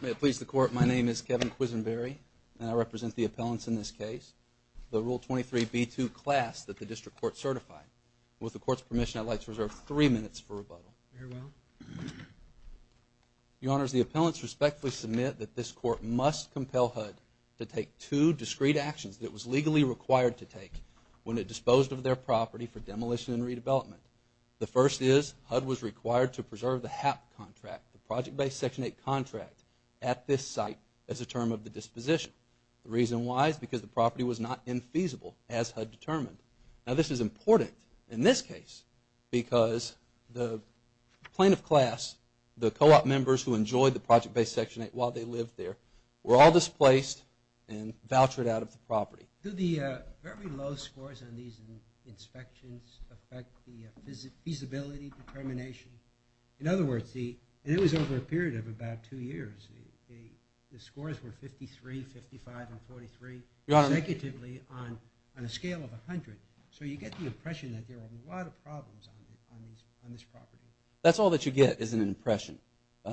May it please the Court, my name is Kevin Quisenberry, and I represent the appellants in this case. The Rule 23b2 class that the District Court certified. With the Court's permission, I'd like to reserve three minutes for rebuttal. Your Honors, the appellants respectfully submit that this Court must compel HUD to take two discrete actions that it was legally required to take when it disposed of their property for demolition and redevelopment. The first is HUD was required to preserve the HAP contract, the Project Based Section 8 contract, at this site as a term of the disposition. The reason why is because the property was not infeasible as HUD determined. Now this is important in this case because the plaintiff class, the co-op members who enjoyed the Project Based Section 8 while they lived there, were all displaced and vouchered out of the property. Do the very low scores on these inspections affect the feasibility determination? In other words, it was over a period of about two years, the scores were 53, 55, and 43 consecutively on a scale of 100. So you get the impression that there were a lot of problems on this property. That's all that you get is an impression.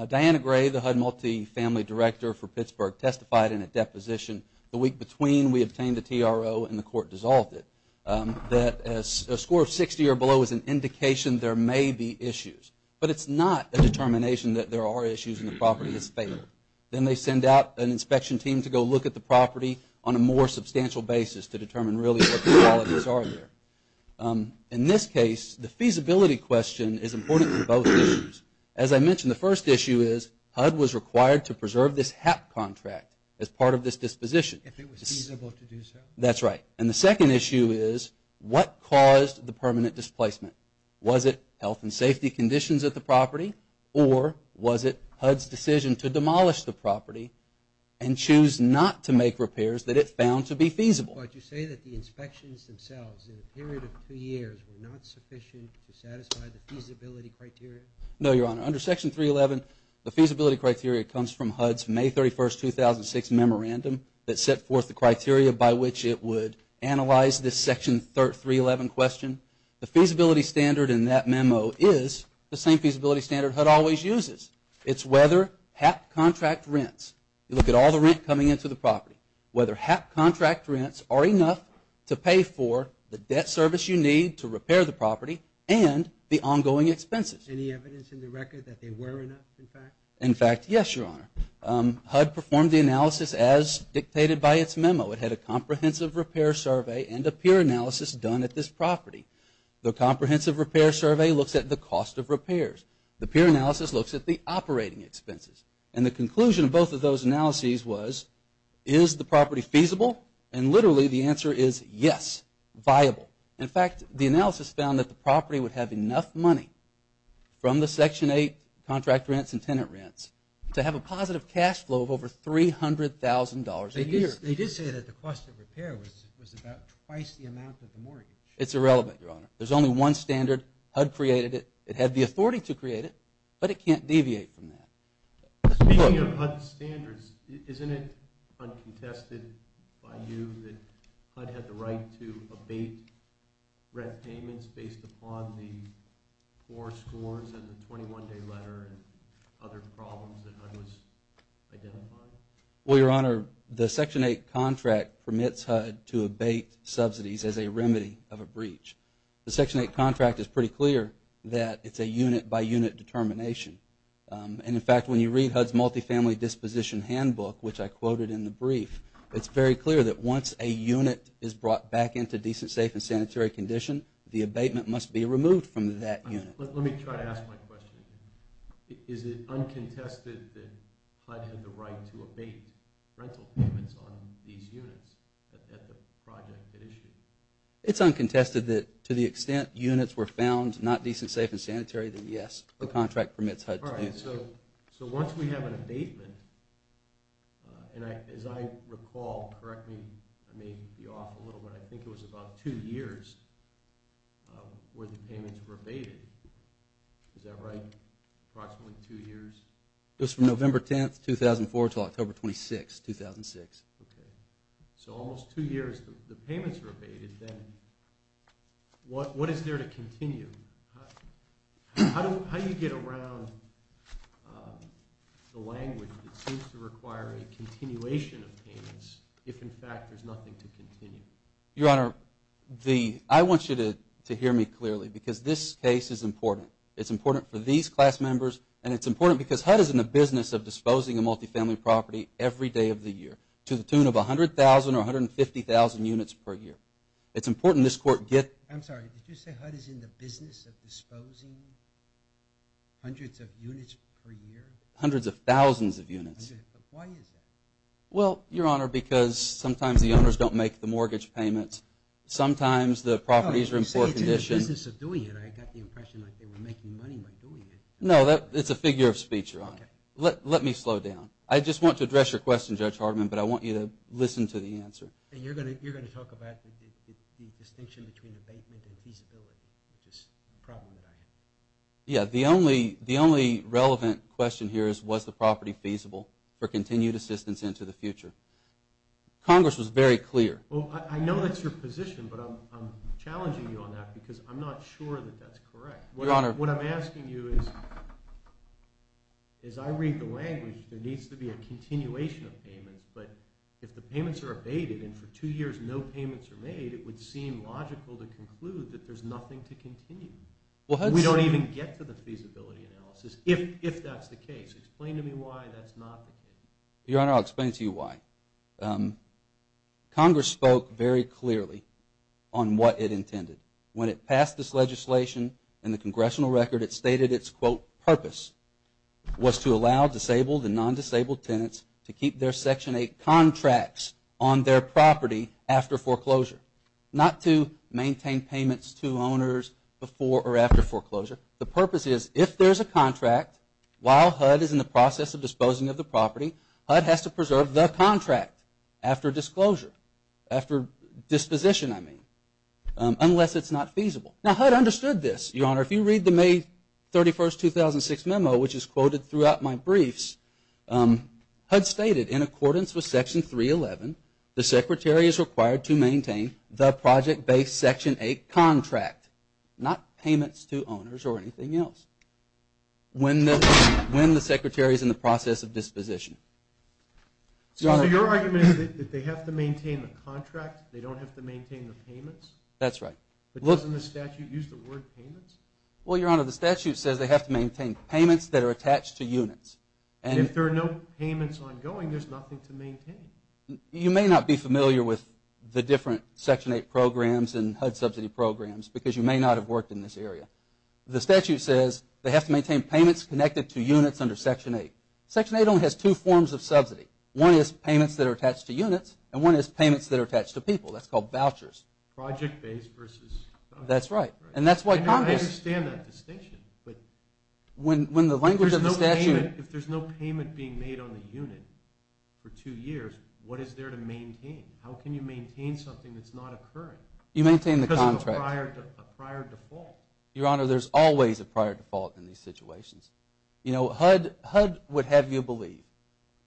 Diana Gray, the HUD Multifamily Director for Pittsburgh, testified in a deposition. The week between we obtained the TRO and the court dissolved it. That a score of 60 or below is an indication there may be issues. But it's not a determination that there are issues and the property has failed. Then they send out an inspection team to go look at the property on a more substantial basis to determine really what the qualities are there. In this case, the feasibility question is important for both issues. As I mentioned, the first issue is HUD was required to preserve this HAP contract as part of this disposition. If it was feasible to do so? That's right. And the second issue is, what caused the permanent displacement? Was it health and safety conditions of the property or was it HUD's decision to demolish the property and choose not to make repairs that it found to be feasible? But you say that the inspections themselves in a period of two years were not sufficient to satisfy the feasibility criteria? No, Your Honor. Under Section 311, the feasibility criteria comes from HUD's May 31, 2006 memorandum that set forth the criteria by which it would analyze this Section 311 question. The feasibility standard in that memo is the same feasibility standard HUD always uses. It's whether HAP contract rents, you look at all the rent coming into the property, whether HAP contract rents are enough to pay for the debt service you need to repair the property and the ongoing expenses. Any evidence in the record that they were enough, in fact? In fact, yes, Your Honor. HUD performed the analysis as dictated by its memo. It had a comprehensive repair survey and a peer analysis done at this property. The comprehensive repair survey looks at the cost of repairs. The peer analysis looks at the operating expenses. And the conclusion of both of those analyses was, is the property feasible? And literally, the answer is yes, viable. In fact, the analysis found that the property would have enough money from the Section 8 contract rents and tenant rents to have a positive cash flow of over $300,000 a year. They did say that the cost of repair was about twice the amount of the mortgage. It's irrelevant, Your Honor. There's only one standard. HUD created it. It had the authority to create it, but it can't deviate from that. Speaking of HUD standards, isn't it uncontested by you that HUD had the right to abate rent payments based upon the four scores and the 21-day letter and other problems that HUD was identifying? Well, Your Honor, the Section 8 contract permits HUD to abate subsidies as a remedy of a breach. The Section 8 contract is pretty clear that it's a unit-by-unit determination. And in fact, when you read HUD's Multifamily Disposition Handbook, which I quoted in the into decent, safe, and sanitary condition, the abatement must be removed from that unit. Let me try to ask my question again. Is it uncontested that HUD had the right to abate rental payments on these units at the project it issued? It's uncontested that to the extent units were found not decent, safe, and sanitary, then yes, the contract permits HUD to do so. So once we have an abatement, and as I recall, correct me, I may be off a little bit, but I think it was about two years where the payments were abated. Is that right? Approximately two years? It was from November 10, 2004, until October 26, 2006. Okay. So almost two years the payments were abated, then what is there to continue? How do you get around the language that seems to require a continuation of payments if in fact there's nothing to continue? Your Honor, I want you to hear me clearly, because this case is important. It's important for these class members, and it's important because HUD is in the business of disposing of multifamily property every day of the year, to the tune of 100,000 or 150,000 units per year. It's important this court get... I'm sorry, did you say HUD is in the business of disposing hundreds of units per year? Hundreds of thousands of units. Why is that? Well, Your Honor, because sometimes the owners don't make the mortgage payments. Sometimes the properties are in poor condition. Oh, you say it's in the business of doing it. I got the impression like they were making money by doing it. No, it's a figure of speech, Your Honor. Let me slow down. I just want to address your question, Judge Hartman, but I want you to listen to the answer. And you're going to talk about the distinction between abatement and feasibility, which is a problem that I have. Yeah, the only relevant question here is was the property feasible for continued assistance into the future? Congress was very clear. Well, I know that's your position, but I'm challenging you on that because I'm not sure that that's correct. Your Honor... What I'm asking you is, as I read the language, there needs to be a continuation of payments, but if the payments are abated and for two years no payments are made, it would seem logical to conclude that there's nothing to continue. Well, that's... We don't even get to the feasibility analysis, if that's the case. I'm going to explain it to you. I'm going to explain it to you. I'm going to explain it to you. I'm going to explain it to you. I'm going to explain it to you why. Congress spoke very clearly on what it intended. When it passed this legislation in the congressional record, it stated its, quote, purpose was to allow disabled and non-disabled tenants to keep their Section 8 contracts on their property after foreclosure. Not to maintain payments to owners before or after foreclosure. The purpose is, if there's a contract, while HUD is in the process of disposing of the contract, after disclosure, after disposition, I mean, unless it's not feasible. Now, HUD understood this. Your Honor, if you read the May 31, 2006 memo, which is quoted throughout my briefs, HUD stated, in accordance with Section 311, the Secretary is required to maintain the project-based Section 8 contract, not payments to owners or anything else, when the Secretary is in the process of disposition. So your argument is that they have to maintain the contract. They don't have to maintain the payments? That's right. But doesn't the statute use the word payments? Well, Your Honor, the statute says they have to maintain payments that are attached to units. And if there are no payments ongoing, there's nothing to maintain? You may not be familiar with the different Section 8 programs and HUD subsidy programs because you may not have worked in this area. The statute says they have to maintain payments connected to units under Section 8. Section 8 only has two forms of subsidy. One is payments that are attached to units, and one is payments that are attached to people. That's called vouchers. Project-based versus contract. That's right. And that's why Congress... I understand that distinction. But... When the language of the statute... If there's no payment being made on the unit for two years, what is there to maintain? How can you maintain something that's not occurring? You maintain the contract. Because of a prior default. Your Honor, there's always a prior default in these situations. You know, HUD would have you believe,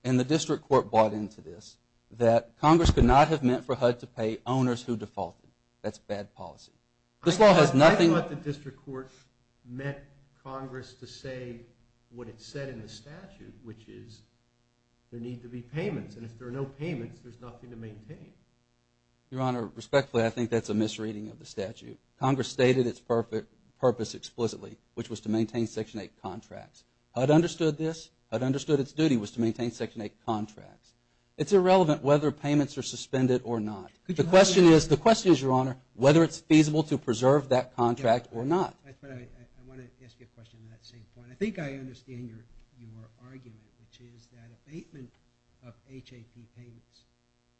and the district court bought into this, that Congress could not have meant for HUD to pay owners who defaulted. That's bad policy. This law has nothing... I thought the district court meant Congress to say what it said in the statute, which is there need to be payments. And if there are no payments, there's nothing to maintain. Your Honor, respectfully, I think that's a misreading of the statute. Congress stated its purpose explicitly, which was to maintain Section 8 contracts. HUD understood this. HUD understood its duty was to maintain Section 8 contracts. It's irrelevant whether payments are suspended or not. The question is, Your Honor, whether it's feasible to preserve that contract or not. I want to ask you a question on that same point. I think I understand your argument, which is that abatement of HAP payments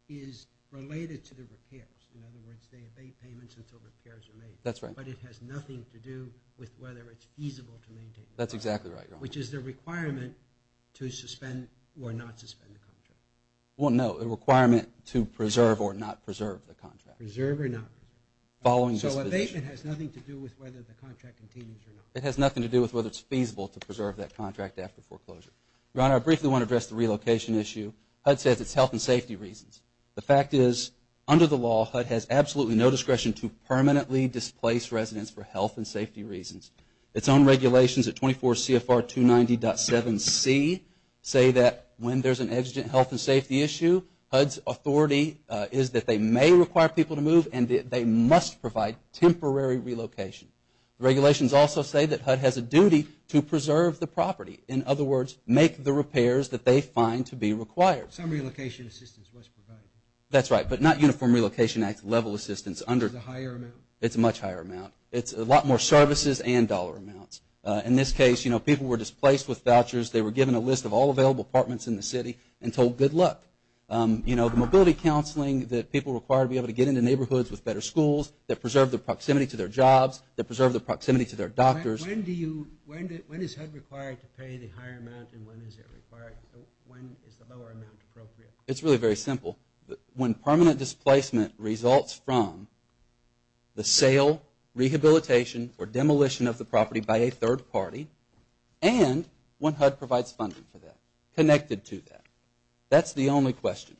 is related to the repairs. In other words, they abate payments until repairs are made. That's right. But it has nothing to do with whether it's feasible to maintain the contract. That's exactly right, Your Honor. Which is the requirement to suspend or not suspend the contract. Well, no, a requirement to preserve or not preserve the contract. Preserve or not preserve. Following disposition. So abatement has nothing to do with whether the contract continues or not. It has nothing to do with whether it's feasible to preserve that contract after foreclosure. Your Honor, I briefly want to address the relocation issue. HUD says it's health and safety reasons. The fact is, under the law, HUD has absolutely no discretion to permanently displace residents for health and safety reasons. Its own regulations at 24 CFR 290.7c say that when there's an exigent health and safety issue, HUD's authority is that they may require people to move and that they must provide temporary relocation. Regulations also say that HUD has a duty to preserve the property. In other words, make the repairs that they find to be required. Some relocation assistance was provided. That's right, but not Uniform Relocation Act level assistance. It's a higher amount. It's a much higher amount. It's a lot more services and dollar amounts. In this case, people were displaced with vouchers. They were given a list of all available apartments in the city and told good luck. The mobility counseling that people require to be able to get into neighborhoods with better schools, that preserve the proximity to their jobs, that preserve the proximity to their doctors. When is HUD required to pay the higher amount and when is the lower amount appropriate? It's really very simple. When permanent displacement results from the sale, rehabilitation, or demolition of the property by a third party and when HUD provides funding for that, connected to that. That's the only question.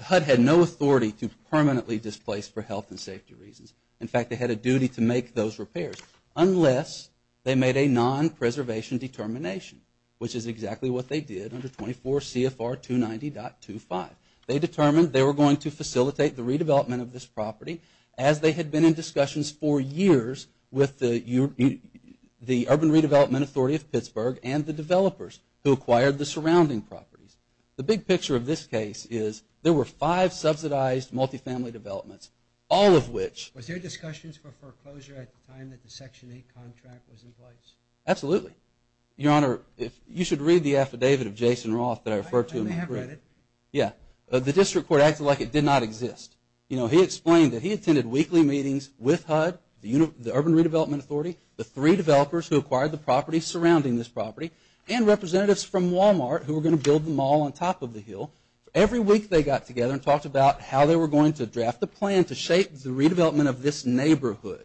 HUD had no authority to permanently displace for health and safety reasons. In fact, they had a duty to make those repairs unless they made a non-preservation determination, which is exactly what they did under 24 CFR 290.25. They determined they were going to facilitate the redevelopment of this property as they had been in discussions for years with the Urban Redevelopment Authority of Pittsburgh and the developers who acquired the surrounding properties. The big picture of this case is there were five subsidized multifamily developments, all of which... Was there discussions for foreclosure at the time that the Section 8 contract was in place? Absolutely. Your Honor, you should read the affidavit of Jason Roth that I referred to. I have read it. Yeah. The district court acted like it did not exist. You know, he explained that he attended weekly meetings with HUD, the Urban Redevelopment Authority, the three developers who acquired the property surrounding this property, and representatives from Walmart who were going to build the mall on top of the hill. Every week they got together and talked about how they were going to draft a plan to shape the redevelopment of this neighborhood.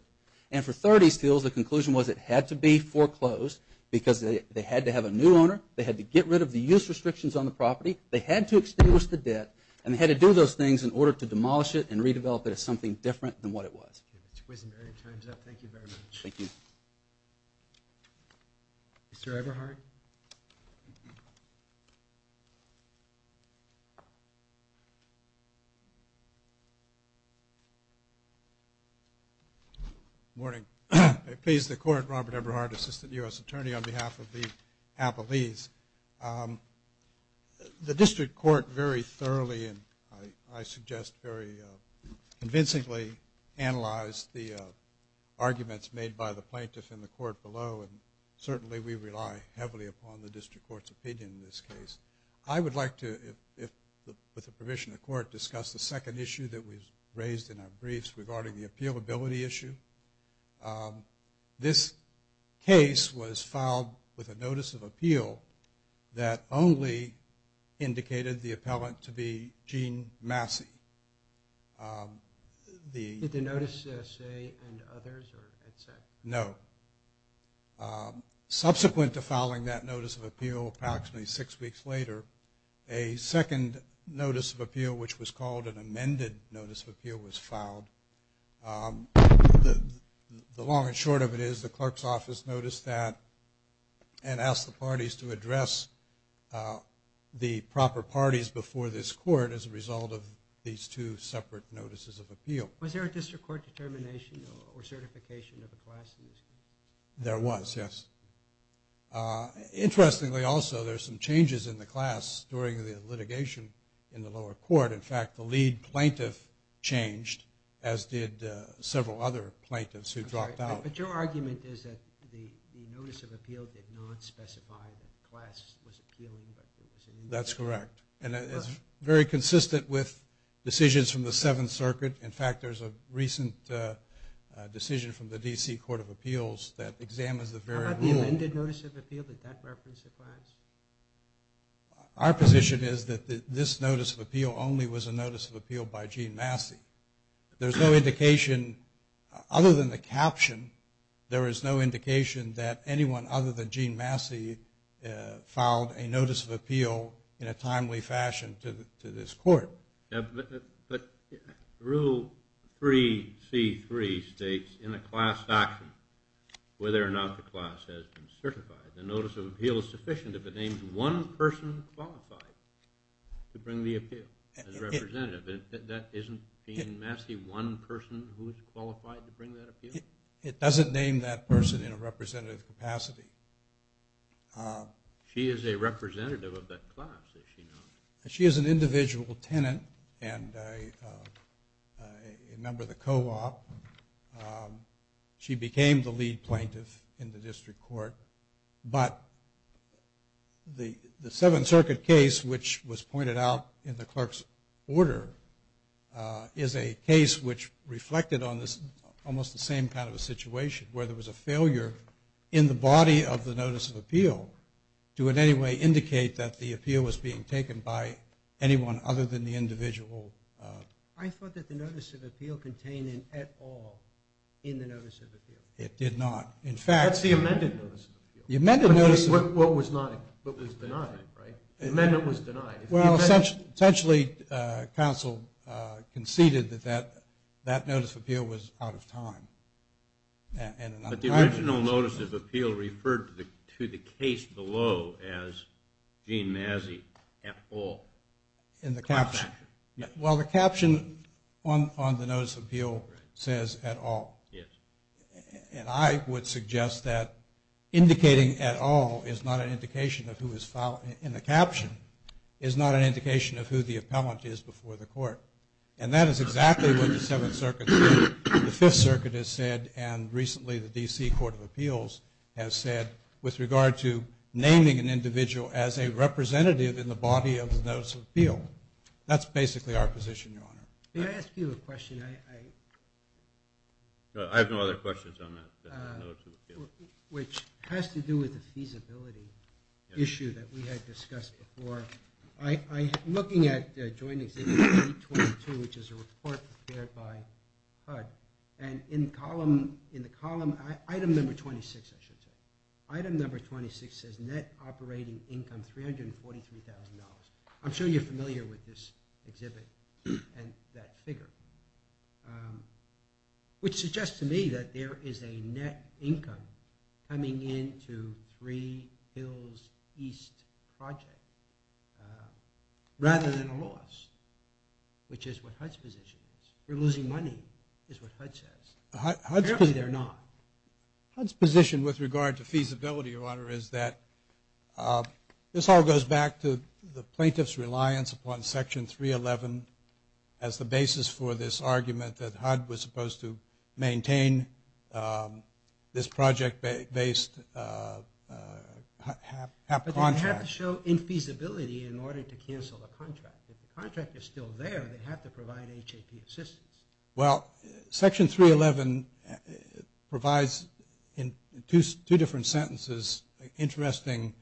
And for 30 steals, the conclusion was it had to be foreclosed because they had to have a new owner, they had to get rid of the use restrictions on the property, they had to extinguish the debt, and they had to do those things in order to demolish it and redevelop it as something different than what it was. Okay. Thank you very much. Thank you. Mr. Everhart? Good morning. I please the court, Robert Everhart, Assistant U.S. Attorney, on behalf of the Appalese. The district court very thoroughly and, I suggest, very convincingly analyzed the arguments made by the plaintiff in the court below, and certainly we rely heavily upon the district court's opinion in this case. I would like to, with the permission of the court, discuss the second issue that was raised in our briefs regarding the appealability issue. This case was filed with a notice of appeal that only indicated the appellant to be Gene Massey. Did the notice say, and others, or is that? No. Subsequent to filing that notice of appeal approximately six weeks later, a second notice of appeal, which was called an amended notice of appeal, was filed. The long and short of it is the clerk's office noticed that and asked the parties to address the proper parties before this court as a result of these two separate notices of appeal. Was there a district court determination or certification of the class in this case? There was, yes. Interestingly, also, there's some changes in the class during the litigation in the lower court. In fact, the lead plaintiff changed, as did several other plaintiffs who dropped out. But your argument is that the notice of appeal did not specify that the class was appealing. That's correct, and it's very consistent with decisions from the Seventh Circuit. In fact, there's a recent decision from the D.C. Court of Appeals that examines the very rule. How about the amended notice of appeal? Did that reference the class? Our position is that this notice of appeal only was a notice of appeal by Gene Massey. There's no indication, other than the caption, there is no indication that anyone other than Gene Massey filed a notice of appeal in a timely fashion to this court. But Rule 3C.3 states in a class document whether or not the class has been certified. The notice of appeal is sufficient if it names one person qualified to bring the appeal as representative. Isn't Gene Massey one person who is qualified to bring that appeal? It doesn't name that person in a representative capacity. She is a representative of that class, is she not? She is an individual tenant and a member of the co-op. She became the lead plaintiff in the district court. But the Seventh Circuit case, which was pointed out in the clerk's order, is a case which reflected on this almost the same kind of a situation, where there was a failure in the body of the notice of appeal to in any way indicate that the appeal was being taken by anyone other than the individual. I thought that the notice of appeal contained an at all in the notice of appeal. It did not. That's the amended notice of appeal. What was denied, right? The amendment was denied. Well, essentially, counsel conceded that that notice of appeal was out of time. But the original notice of appeal referred to the case below as Gene Massey at all. In the caption? Yes. Well, the caption on the notice of appeal says at all. Yes. And I would suggest that indicating at all is not an indication of who was filed. And the caption is not an indication of who the appellant is before the court. And that is exactly what the Seventh Circuit said. The Fifth Circuit has said, and recently the D.C. Court of Appeals has said, with regard to naming an individual as a representative in the body of the notice of appeal. That's basically our position, Your Honor. May I ask you a question? I have no other questions on that. Which has to do with the feasibility issue that we had discussed before. I'm looking at Joint Exhibit 322, which is a report prepared by HUD. And in the column, item number 26, I should say. Item number 26 says net operating income $343,000. I'm sure you're familiar with this exhibit and that figure. Which suggests to me that there is a net income coming into Three Hills East project, rather than a loss, which is what HUD's position is. We're losing money, is what HUD says. Apparently they're not. HUD's position with regard to feasibility, Your Honor, is that this all goes back to the plaintiff's reliance upon Section 311 as the basis for this argument that HUD was supposed to maintain this project-based HAP contract. But they have to show infeasibility in order to cancel the contract. If the contract is still there, they have to provide HAP assistance. Well, Section 311 provides, in two different sentences, interesting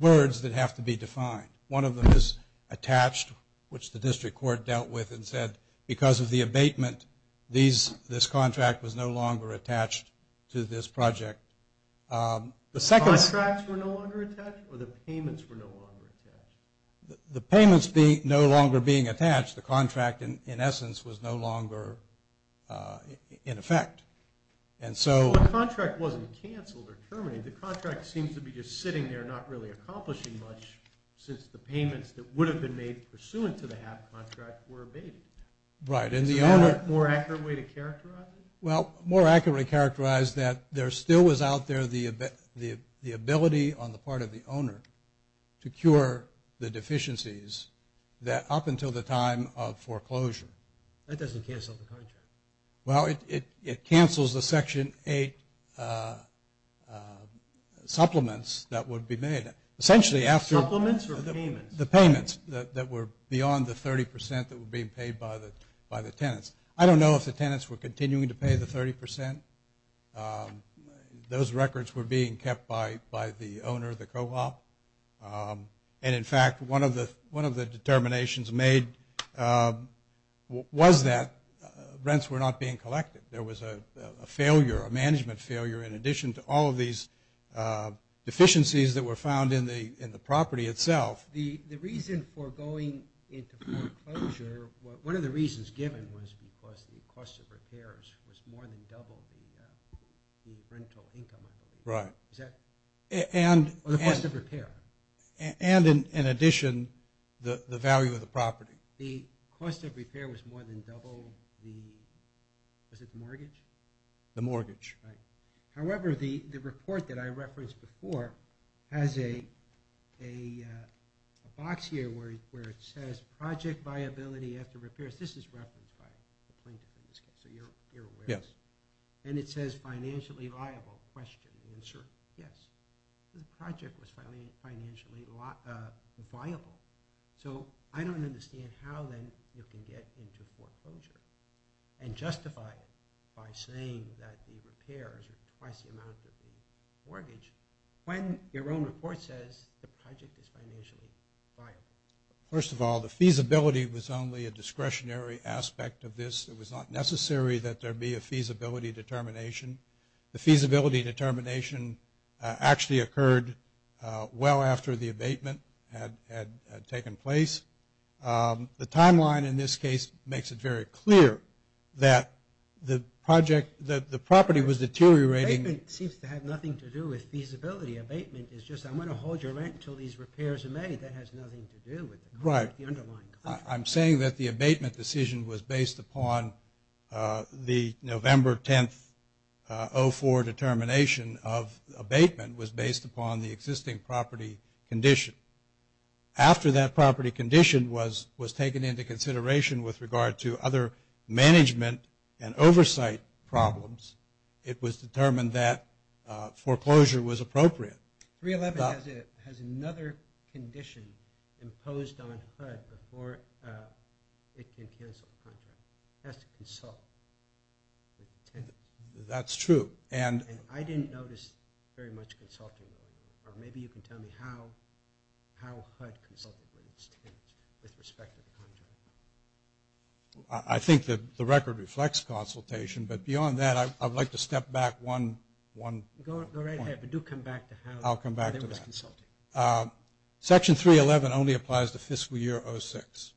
words that have to be defined. One of them is attached, which the district court dealt with and said, because of the abatement, this contract was no longer attached to this project. Contracts were no longer attached or the payments were no longer attached? The payments no longer being attached. The contract, in essence, was no longer in effect. The contract wasn't canceled or terminated. The contract seems to be just sitting there, not really accomplishing much, since the payments that would have been made pursuant to the HAP contract were abated. Right. Is there a more accurate way to characterize it? Well, more accurately characterized that there still was out there the ability on the part of the owner to cure the deficiencies that up until the time of foreclosure. That doesn't cancel the contract. Well, it cancels the Section 8 supplements that would be made. Supplements or payments? The payments that were beyond the 30% that were being paid by the tenants. I don't know if the tenants were continuing to pay the 30%. Those records were being kept by the owner of the co-op. And, in fact, one of the determinations made was that rents were not being collected. There was a failure, a management failure, in addition to all of these deficiencies that were found in the property itself. The reason for going into foreclosure, one of the reasons given was because the cost of repairs was more than double the rental income, I believe. Right. Or the cost of repair. And, in addition, the value of the property. The cost of repair was more than double the mortgage? The mortgage. Right. However, the report that I referenced before has a box here where it says project viability after repairs. This is referenced by the plaintiff in this case, so you're aware. Yes. And it says financially viable question. The answer, yes. The project was financially viable. So I don't understand how, then, you can get into foreclosure and justify it by saying that the repairs are twice the amount of the mortgage when your own report says the project is financially viable. First of all, the feasibility was only a discretionary aspect of this. It was not necessary that there be a feasibility determination. The feasibility determination actually occurred well after the abatement had taken place. The timeline in this case makes it very clear that the property was deteriorating. Abatement seems to have nothing to do with feasibility. Abatement is just I'm going to hold your rent until these repairs are made. That has nothing to do with the underlying contract. I'm saying that the abatement decision was based upon the November 10th, 04 determination of abatement was based upon the existing property condition. After that property condition was taken into consideration with regard to other management and oversight problems, it was determined that foreclosure was appropriate. 311 has another condition imposed on HUD before it can cancel the contract. It has to consult. That's true. And I didn't notice very much consulting. Maybe you can tell me how HUD consulted with respect to the contract. I think that the record reflects consultation. But beyond that, I would like to step back one point. I'll come back to that. Section 311 only applies to fiscal year 06.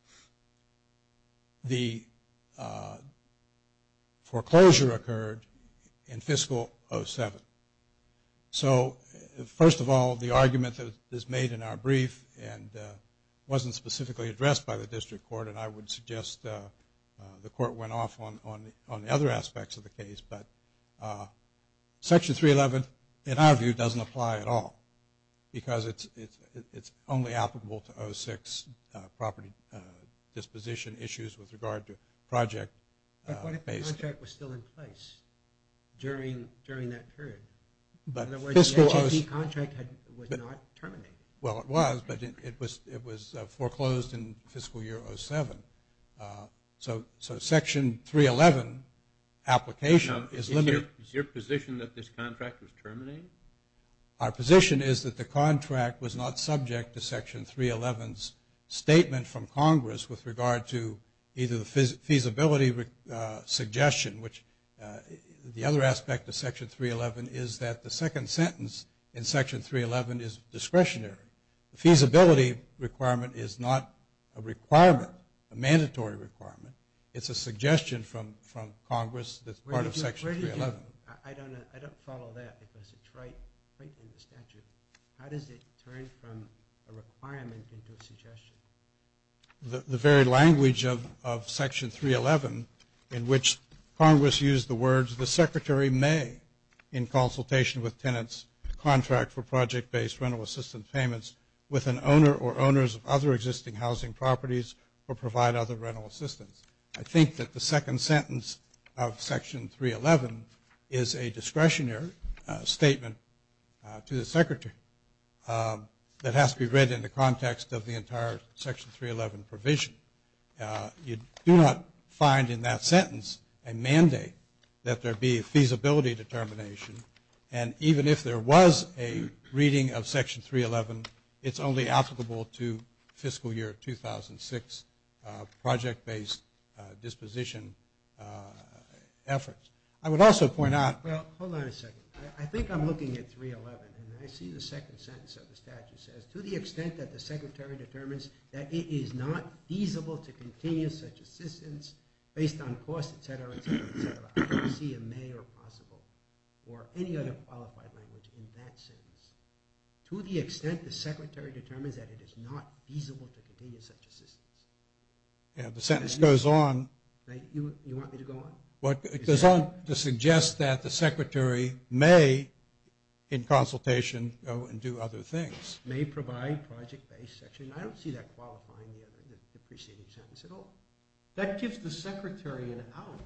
The foreclosure occurred in fiscal 07. So, first of all, the argument that is made in our brief and wasn't specifically addressed by the district court, and I would suggest the court went off on the other aspects of the case. But Section 311, in our view, doesn't apply at all because it's only applicable to 06 property disposition issues with regard to project. But what if the contract was still in place during that period? In other words, the HUD contract was not terminated. Well, it was, but it was foreclosed in fiscal year 07. So, Section 311 application is limited. Is your position that this contract was terminated? Our position is that the contract was not subject to Section 311's statement from Congress with regard to either the feasibility suggestion, which the other aspect of Section 311 is that the second sentence in Section 311 is discretionary. The feasibility requirement is not a requirement, a mandatory requirement. It's a suggestion from Congress that's part of Section 311. I don't follow that because it's right in the statute. How does it turn from a requirement into a suggestion? The very language of Section 311 in which Congress used the words, the Secretary may, in consultation with tenants, contract for project-based rental assistance payments with an owner or owners of other existing housing properties or provide other rental assistance. I think that the second sentence of Section 311 is a discretionary statement to the Secretary that has to be read in the context of the entire Section 311 provision. You do not find in that sentence a mandate that there be a feasibility determination, and even if there was a reading of Section 311, it's only applicable to fiscal year 2006 project-based disposition efforts. I would also point out – Well, hold on a second. I think I'm looking at 311, and I see the second sentence of the statute says, to the extent that the Secretary determines that it is not feasible to continue such assistance based on cost, et cetera, et cetera, et cetera. I don't see a may or possible or any other qualified language in that sentence. To the extent the Secretary determines that it is not feasible to continue such assistance. Yeah, the sentence goes on. You want me to go on? It goes on to suggest that the Secretary may, in consultation, go and do other things. May provide project-based section. I don't see that qualifying the preceding sentence at all. That gives the Secretary an out.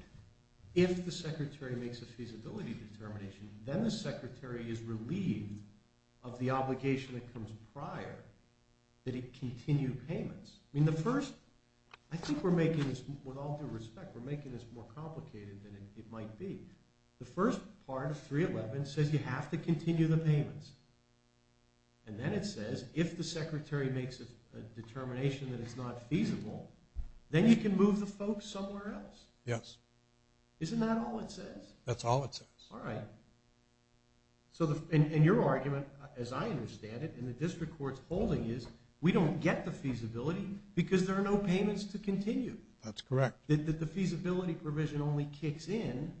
If the Secretary makes a feasibility determination, then the Secretary is relieved of the obligation that comes prior that it continue payments. I mean, the first – I think we're making this – with all due respect, we're making this more complicated than it might be. The first part of 311 says you have to continue the payments, and then it says if the Secretary makes a determination that it's not feasible, then you can move the folks somewhere else. Yes. Isn't that all it says? That's all it says. All right. And your argument, as I understand it, and the district court's holding is we don't get the feasibility because there are no payments to continue. That's correct. That the feasibility provision only kicks in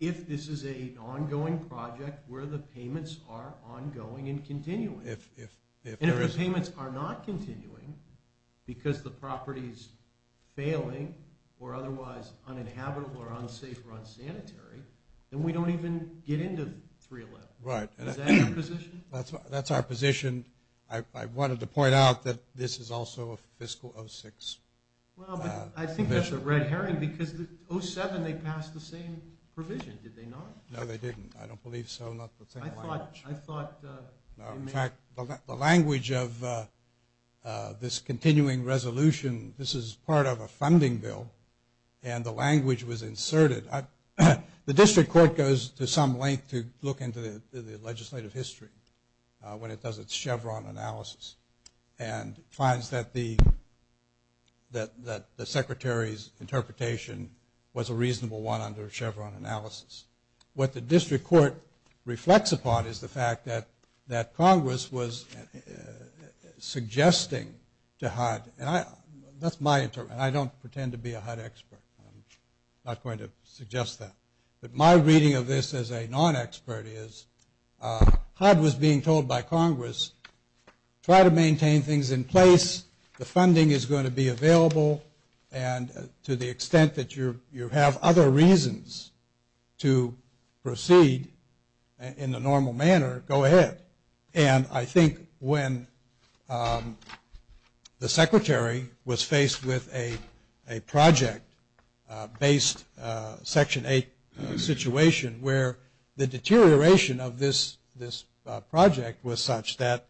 if this is an ongoing project where the payments are ongoing and continuing. If there is – And if the payments are not continuing because the property is failing or otherwise uninhabitable or unsafe or unsanitary, then we don't even get into 311. Right. Is that your position? That's our position. I wanted to point out that this is also a fiscal 06. Well, but I think that's a red herring because 07, they passed the same provision, did they not? No, they didn't. I don't believe so. Not the same language. I thought – In fact, the language of this continuing resolution, this is part of a funding bill, and the language was inserted. The district court goes to some length to look into the legislative history when it does its Chevron analysis and finds that the secretary's interpretation was a reasonable one under Chevron analysis. What the district court reflects upon is the fact that Congress was suggesting to HUD, and that's my interpretation. I don't pretend to be a HUD expert. I'm not going to suggest that. But my reading of this as a non-expert is HUD was being told by Congress, try to maintain things in place, the funding is going to be available, and to the extent that you have other reasons to proceed in a normal manner, go ahead. And I think when the secretary was faced with a project-based Section 8 situation where the deterioration of this project was such that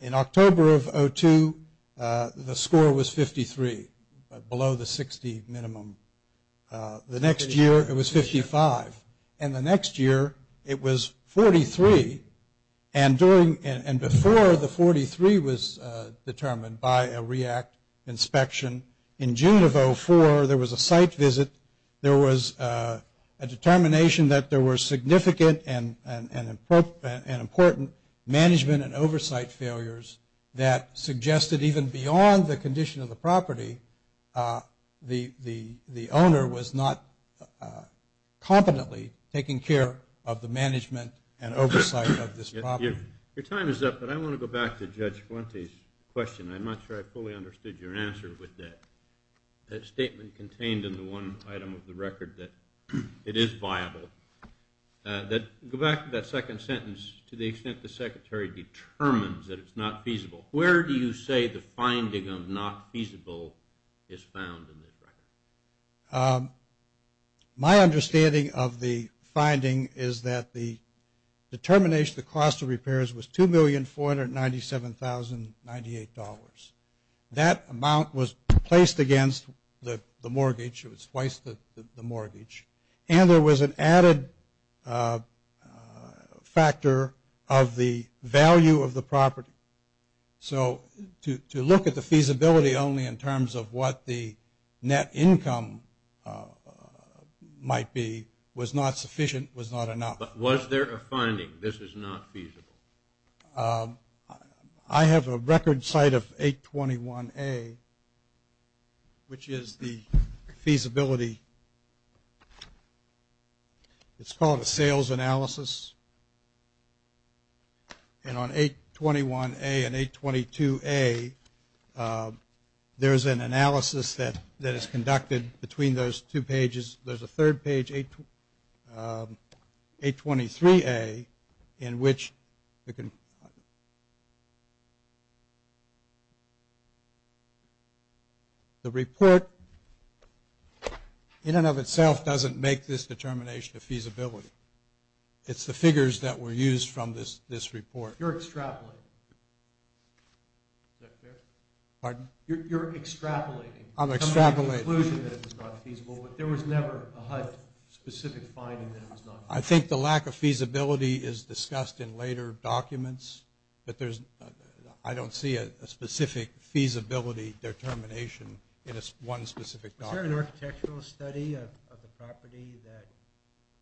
in October of 2002, the score was 53, below the 60 minimum. The next year it was 55, and the next year it was 43. And before the 43 was determined by a REACT inspection, in June of 2004 there was a site visit. There was a determination that there were significant and important management and oversight failures that suggested even beyond the condition of the property, the owner was not competently taking care of the management and oversight of this property. Your time is up, but I want to go back to Judge Fuente's question. I'm not sure I fully understood your answer with that. That statement contained in the one item of the record that it is viable. Go back to that second sentence, to the extent the secretary determines that it's not feasible. Where do you say the finding of not feasible is found in this record? My understanding of the finding is that the determination of the cost of repairs was $2,497,098. That amount was placed against the mortgage. It was twice the mortgage. And there was an added factor of the value of the property. So to look at the feasibility only in terms of what the net income might be was not sufficient, was not enough. But was there a finding, this is not feasible? I have a record site of 821A, which is the feasibility. It's called a sales analysis. And on 821A and 822A, there is an analysis that is conducted between those two pages. There's a third page, 823A, in which the report in and of itself doesn't make this determination of feasibility. It's the figures that were used from this report. You're extrapolating. Is that fair? Pardon? You're extrapolating. I'm extrapolating. There was a conclusion that it was not feasible, but there was never a HUD-specific finding that it was not feasible. I think the lack of feasibility is discussed in later documents. But I don't see a specific feasibility determination in one specific document. Was there an architectural study of the property that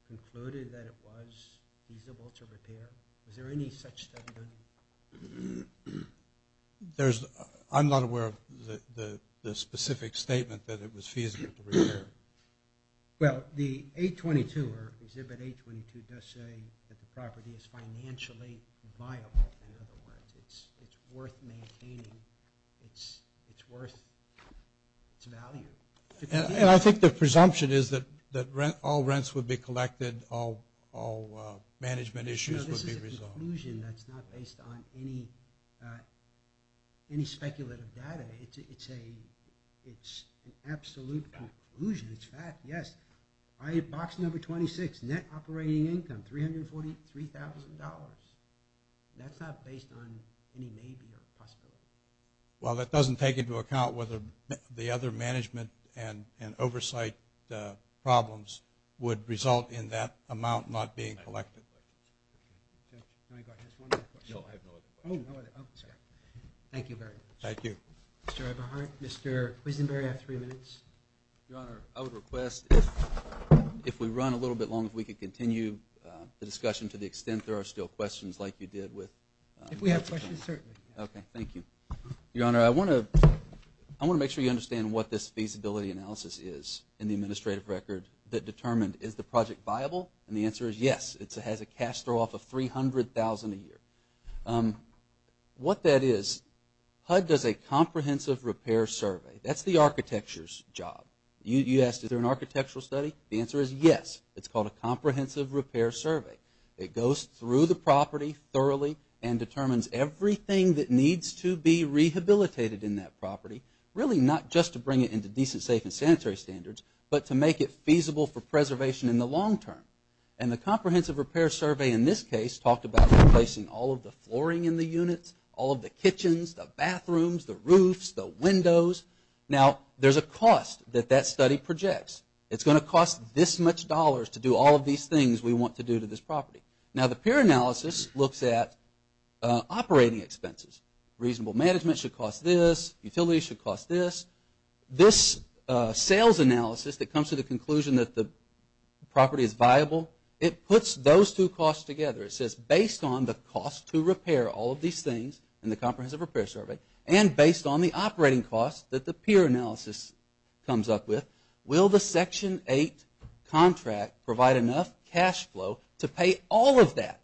concluded that it was feasible to repair? Was there any such study? I'm not aware of the specific statement that it was feasible to repair. Well, the 822, or Exhibit 822, does say that the property is financially viable. In other words, it's worth maintaining. It's worth its value. And I think the presumption is that all rents would be collected, all management issues would be resolved. It's a conclusion that's not based on any speculative data. It's an absolute conclusion. It's fact, yes. Box number 26, net operating income, $343,000. That's not based on any maybe or possibility. Well, that doesn't take into account whether the other management and oversight problems would result in that amount not being collected. Thank you. Thank you very much. Thank you. Mr. Eberhardt, Mr. Quisenberry, I have three minutes. Your Honor, I would request, if we run a little bit long, if we could continue the discussion to the extent there are still questions like you did with If we have questions, certainly. Okay. Thank you. Your Honor, I want to make sure you understand what this feasibility analysis is in the administrative record that determined, is the project viable? And the answer is yes. It has a cash throwoff of $300,000 a year. What that is, HUD does a comprehensive repair survey. That's the architecture's job. You asked, is there an architectural study? The answer is yes. It's called a comprehensive repair survey. It goes through the property thoroughly and determines everything that needs to be rehabilitated in that property, really not just to bring it into decent, safe, and sanitary standards, but to make it feasible for preservation in the long term. And the comprehensive repair survey in this case talked about replacing all of the flooring in the units, all of the kitchens, the bathrooms, the roofs, the windows. Now, there's a cost that that study projects. It's going to cost this much dollars to do all of these things we want to do to this property. Now, the peer analysis looks at operating expenses. Reasonable management should cost this. Utilities should cost this. This sales analysis that comes to the conclusion that the property is viable, it puts those two costs together. It says based on the cost to repair all of these things in the comprehensive repair survey and based on the operating costs that the peer analysis comes up with, will the Section 8 contract provide enough cash flow to pay all of that?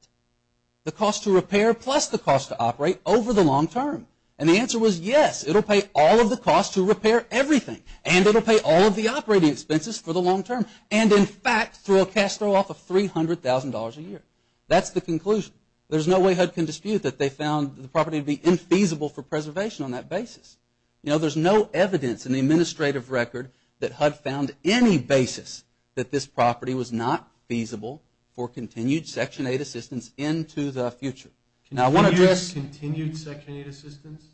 The cost to repair plus the cost to operate over the long term. And the answer was yes, it will pay all of the costs to repair everything, and it will pay all of the operating expenses for the long term, and in fact, throw a cash flow off of $300,000 a year. That's the conclusion. There's no way HUD can dispute that they found the property to be infeasible for preservation on that basis. You know, there's no evidence in the administrative record that HUD found any basis that this property was not feasible for continued Section 8 assistance into the future. Continued Section 8 assistance?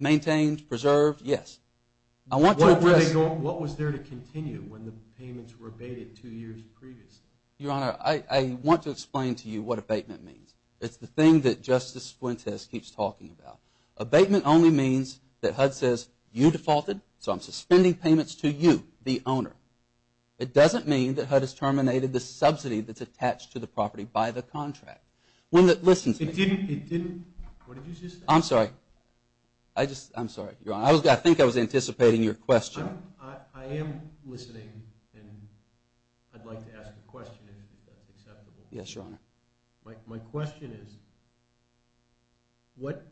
Maintained, preserved, yes. What was there to continue when the payments were abated two years previously? Your Honor, I want to explain to you what abatement means. It's the thing that Justice Fuentes keeps talking about. Abatement only means that HUD says you defaulted, so I'm suspending payments to you, the owner. It doesn't mean that HUD has terminated the subsidy that's attached to the property by the contract. When the, listen to me. It didn't, it didn't, what did you just say? I'm sorry. I just, I'm sorry, Your Honor. I think I was anticipating your question. I am listening, and I'd like to ask a question if that's acceptable. My question is, what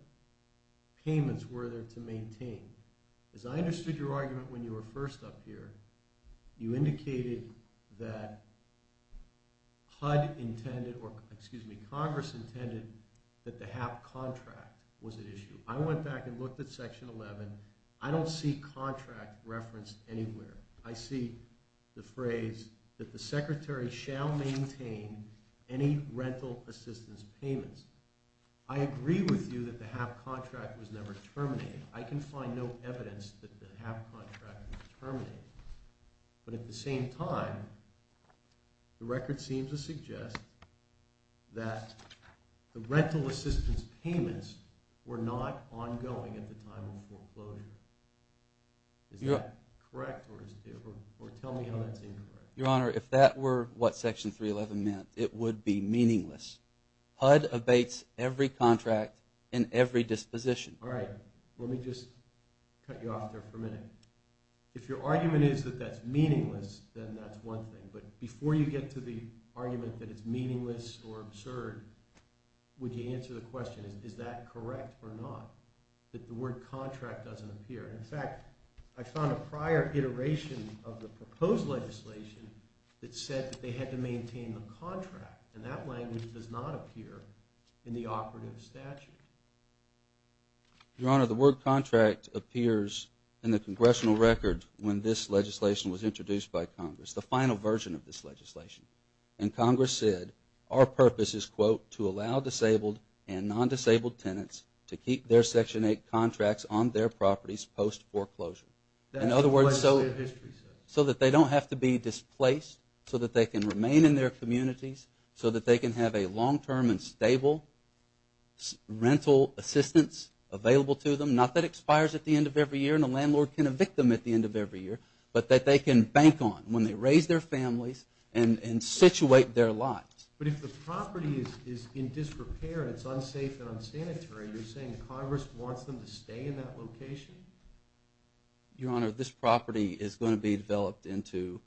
payments were there to maintain? As I understood your argument when you were first up here, you indicated that HUD intended, or excuse me, Congress intended that the HAP contract was at issue. I went back and looked at Section 11. I don't see contract referenced anywhere. I see the phrase that the Secretary shall maintain any rental assistance payments. I agree with you that the HAP contract was never terminated. I can find no evidence that the HAP contract was terminated. But at the same time, the record seems to suggest that the rental assistance payments were not ongoing at the time of foreclosure. Is that correct, or tell me how that's incorrect? Your Honor, if that were what Section 311 meant, it would be meaningless. HUD abates every contract in every disposition. All right, let me just cut you off there for a minute. If your argument is that that's meaningless, then that's one thing. But before you get to the argument that it's meaningless or absurd, would you answer the question, is that correct or not, that the word contract doesn't appear? In fact, I found a prior iteration of the proposed legislation that said that they had to maintain the contract, and that language does not appear in the operative statute. Your Honor, the word contract appears in the congressional record when this legislation was introduced by Congress, the final version of this legislation. And Congress said our purpose is, quote, to allow disabled and non-disabled tenants to keep their Section 8 contracts on their properties post-foreclosure. In other words, so that they don't have to be displaced, so that they can remain in their communities, so that they can have a long-term and stable rental assistance available to them, not that it expires at the end of every year and a landlord can evict them at the end of every year, but that they can bank on when they raise their families and situate their lives. But if the property is in disrepair and it's unsafe and unsanitary, you're saying Congress wants them to stay in that location? Your Honor, this property is going to be developed into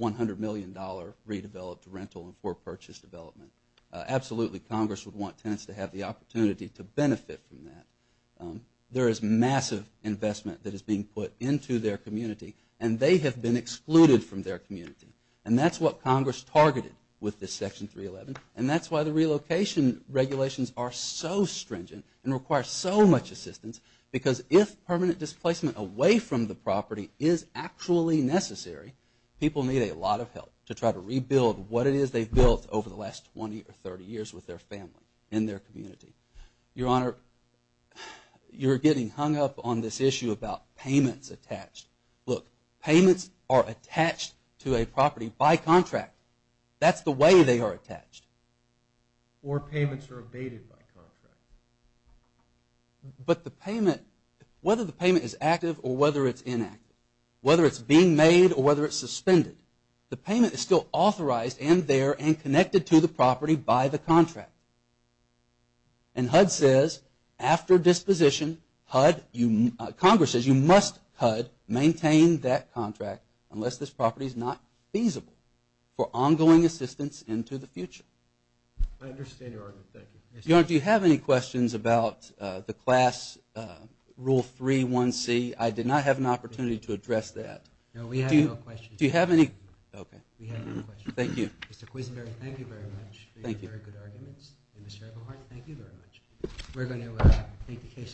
$100 million redeveloped rental and for purchase development. Absolutely, Congress would want tenants to have the opportunity to benefit from that. There is massive investment that is being put into their community, and they have been excluded from their community. And that's what Congress targeted with this Section 311, and that's why the relocation regulations are so stringent and require so much assistance, because if permanent displacement away from the property is actually necessary, people need a lot of help to try to rebuild what it is they've built over the last 20 or 30 years with their family and their community. Your Honor, you're getting hung up on this issue about payments attached. Look, payments are attached to a property by contract. That's the way they are attached. Or payments are abated by contract. But whether the payment is active or whether it's inactive, whether it's being made or whether it's suspended, the payment is still authorized and there and connected to the property by the contract. And HUD says after disposition, Congress says you must, HUD, maintain that contract unless this property is not feasible for ongoing assistance into the future. I understand your argument. Thank you. Your Honor, do you have any questions about the Class Rule 3.1c? I did not have an opportunity to address that. No, we have no questions. Do you have any? Okay. We have no questions. Thank you. Mr. Quisenberry, thank you very much for your very good arguments. And Mr. Eagleheart, thank you very much. We're going to take the case.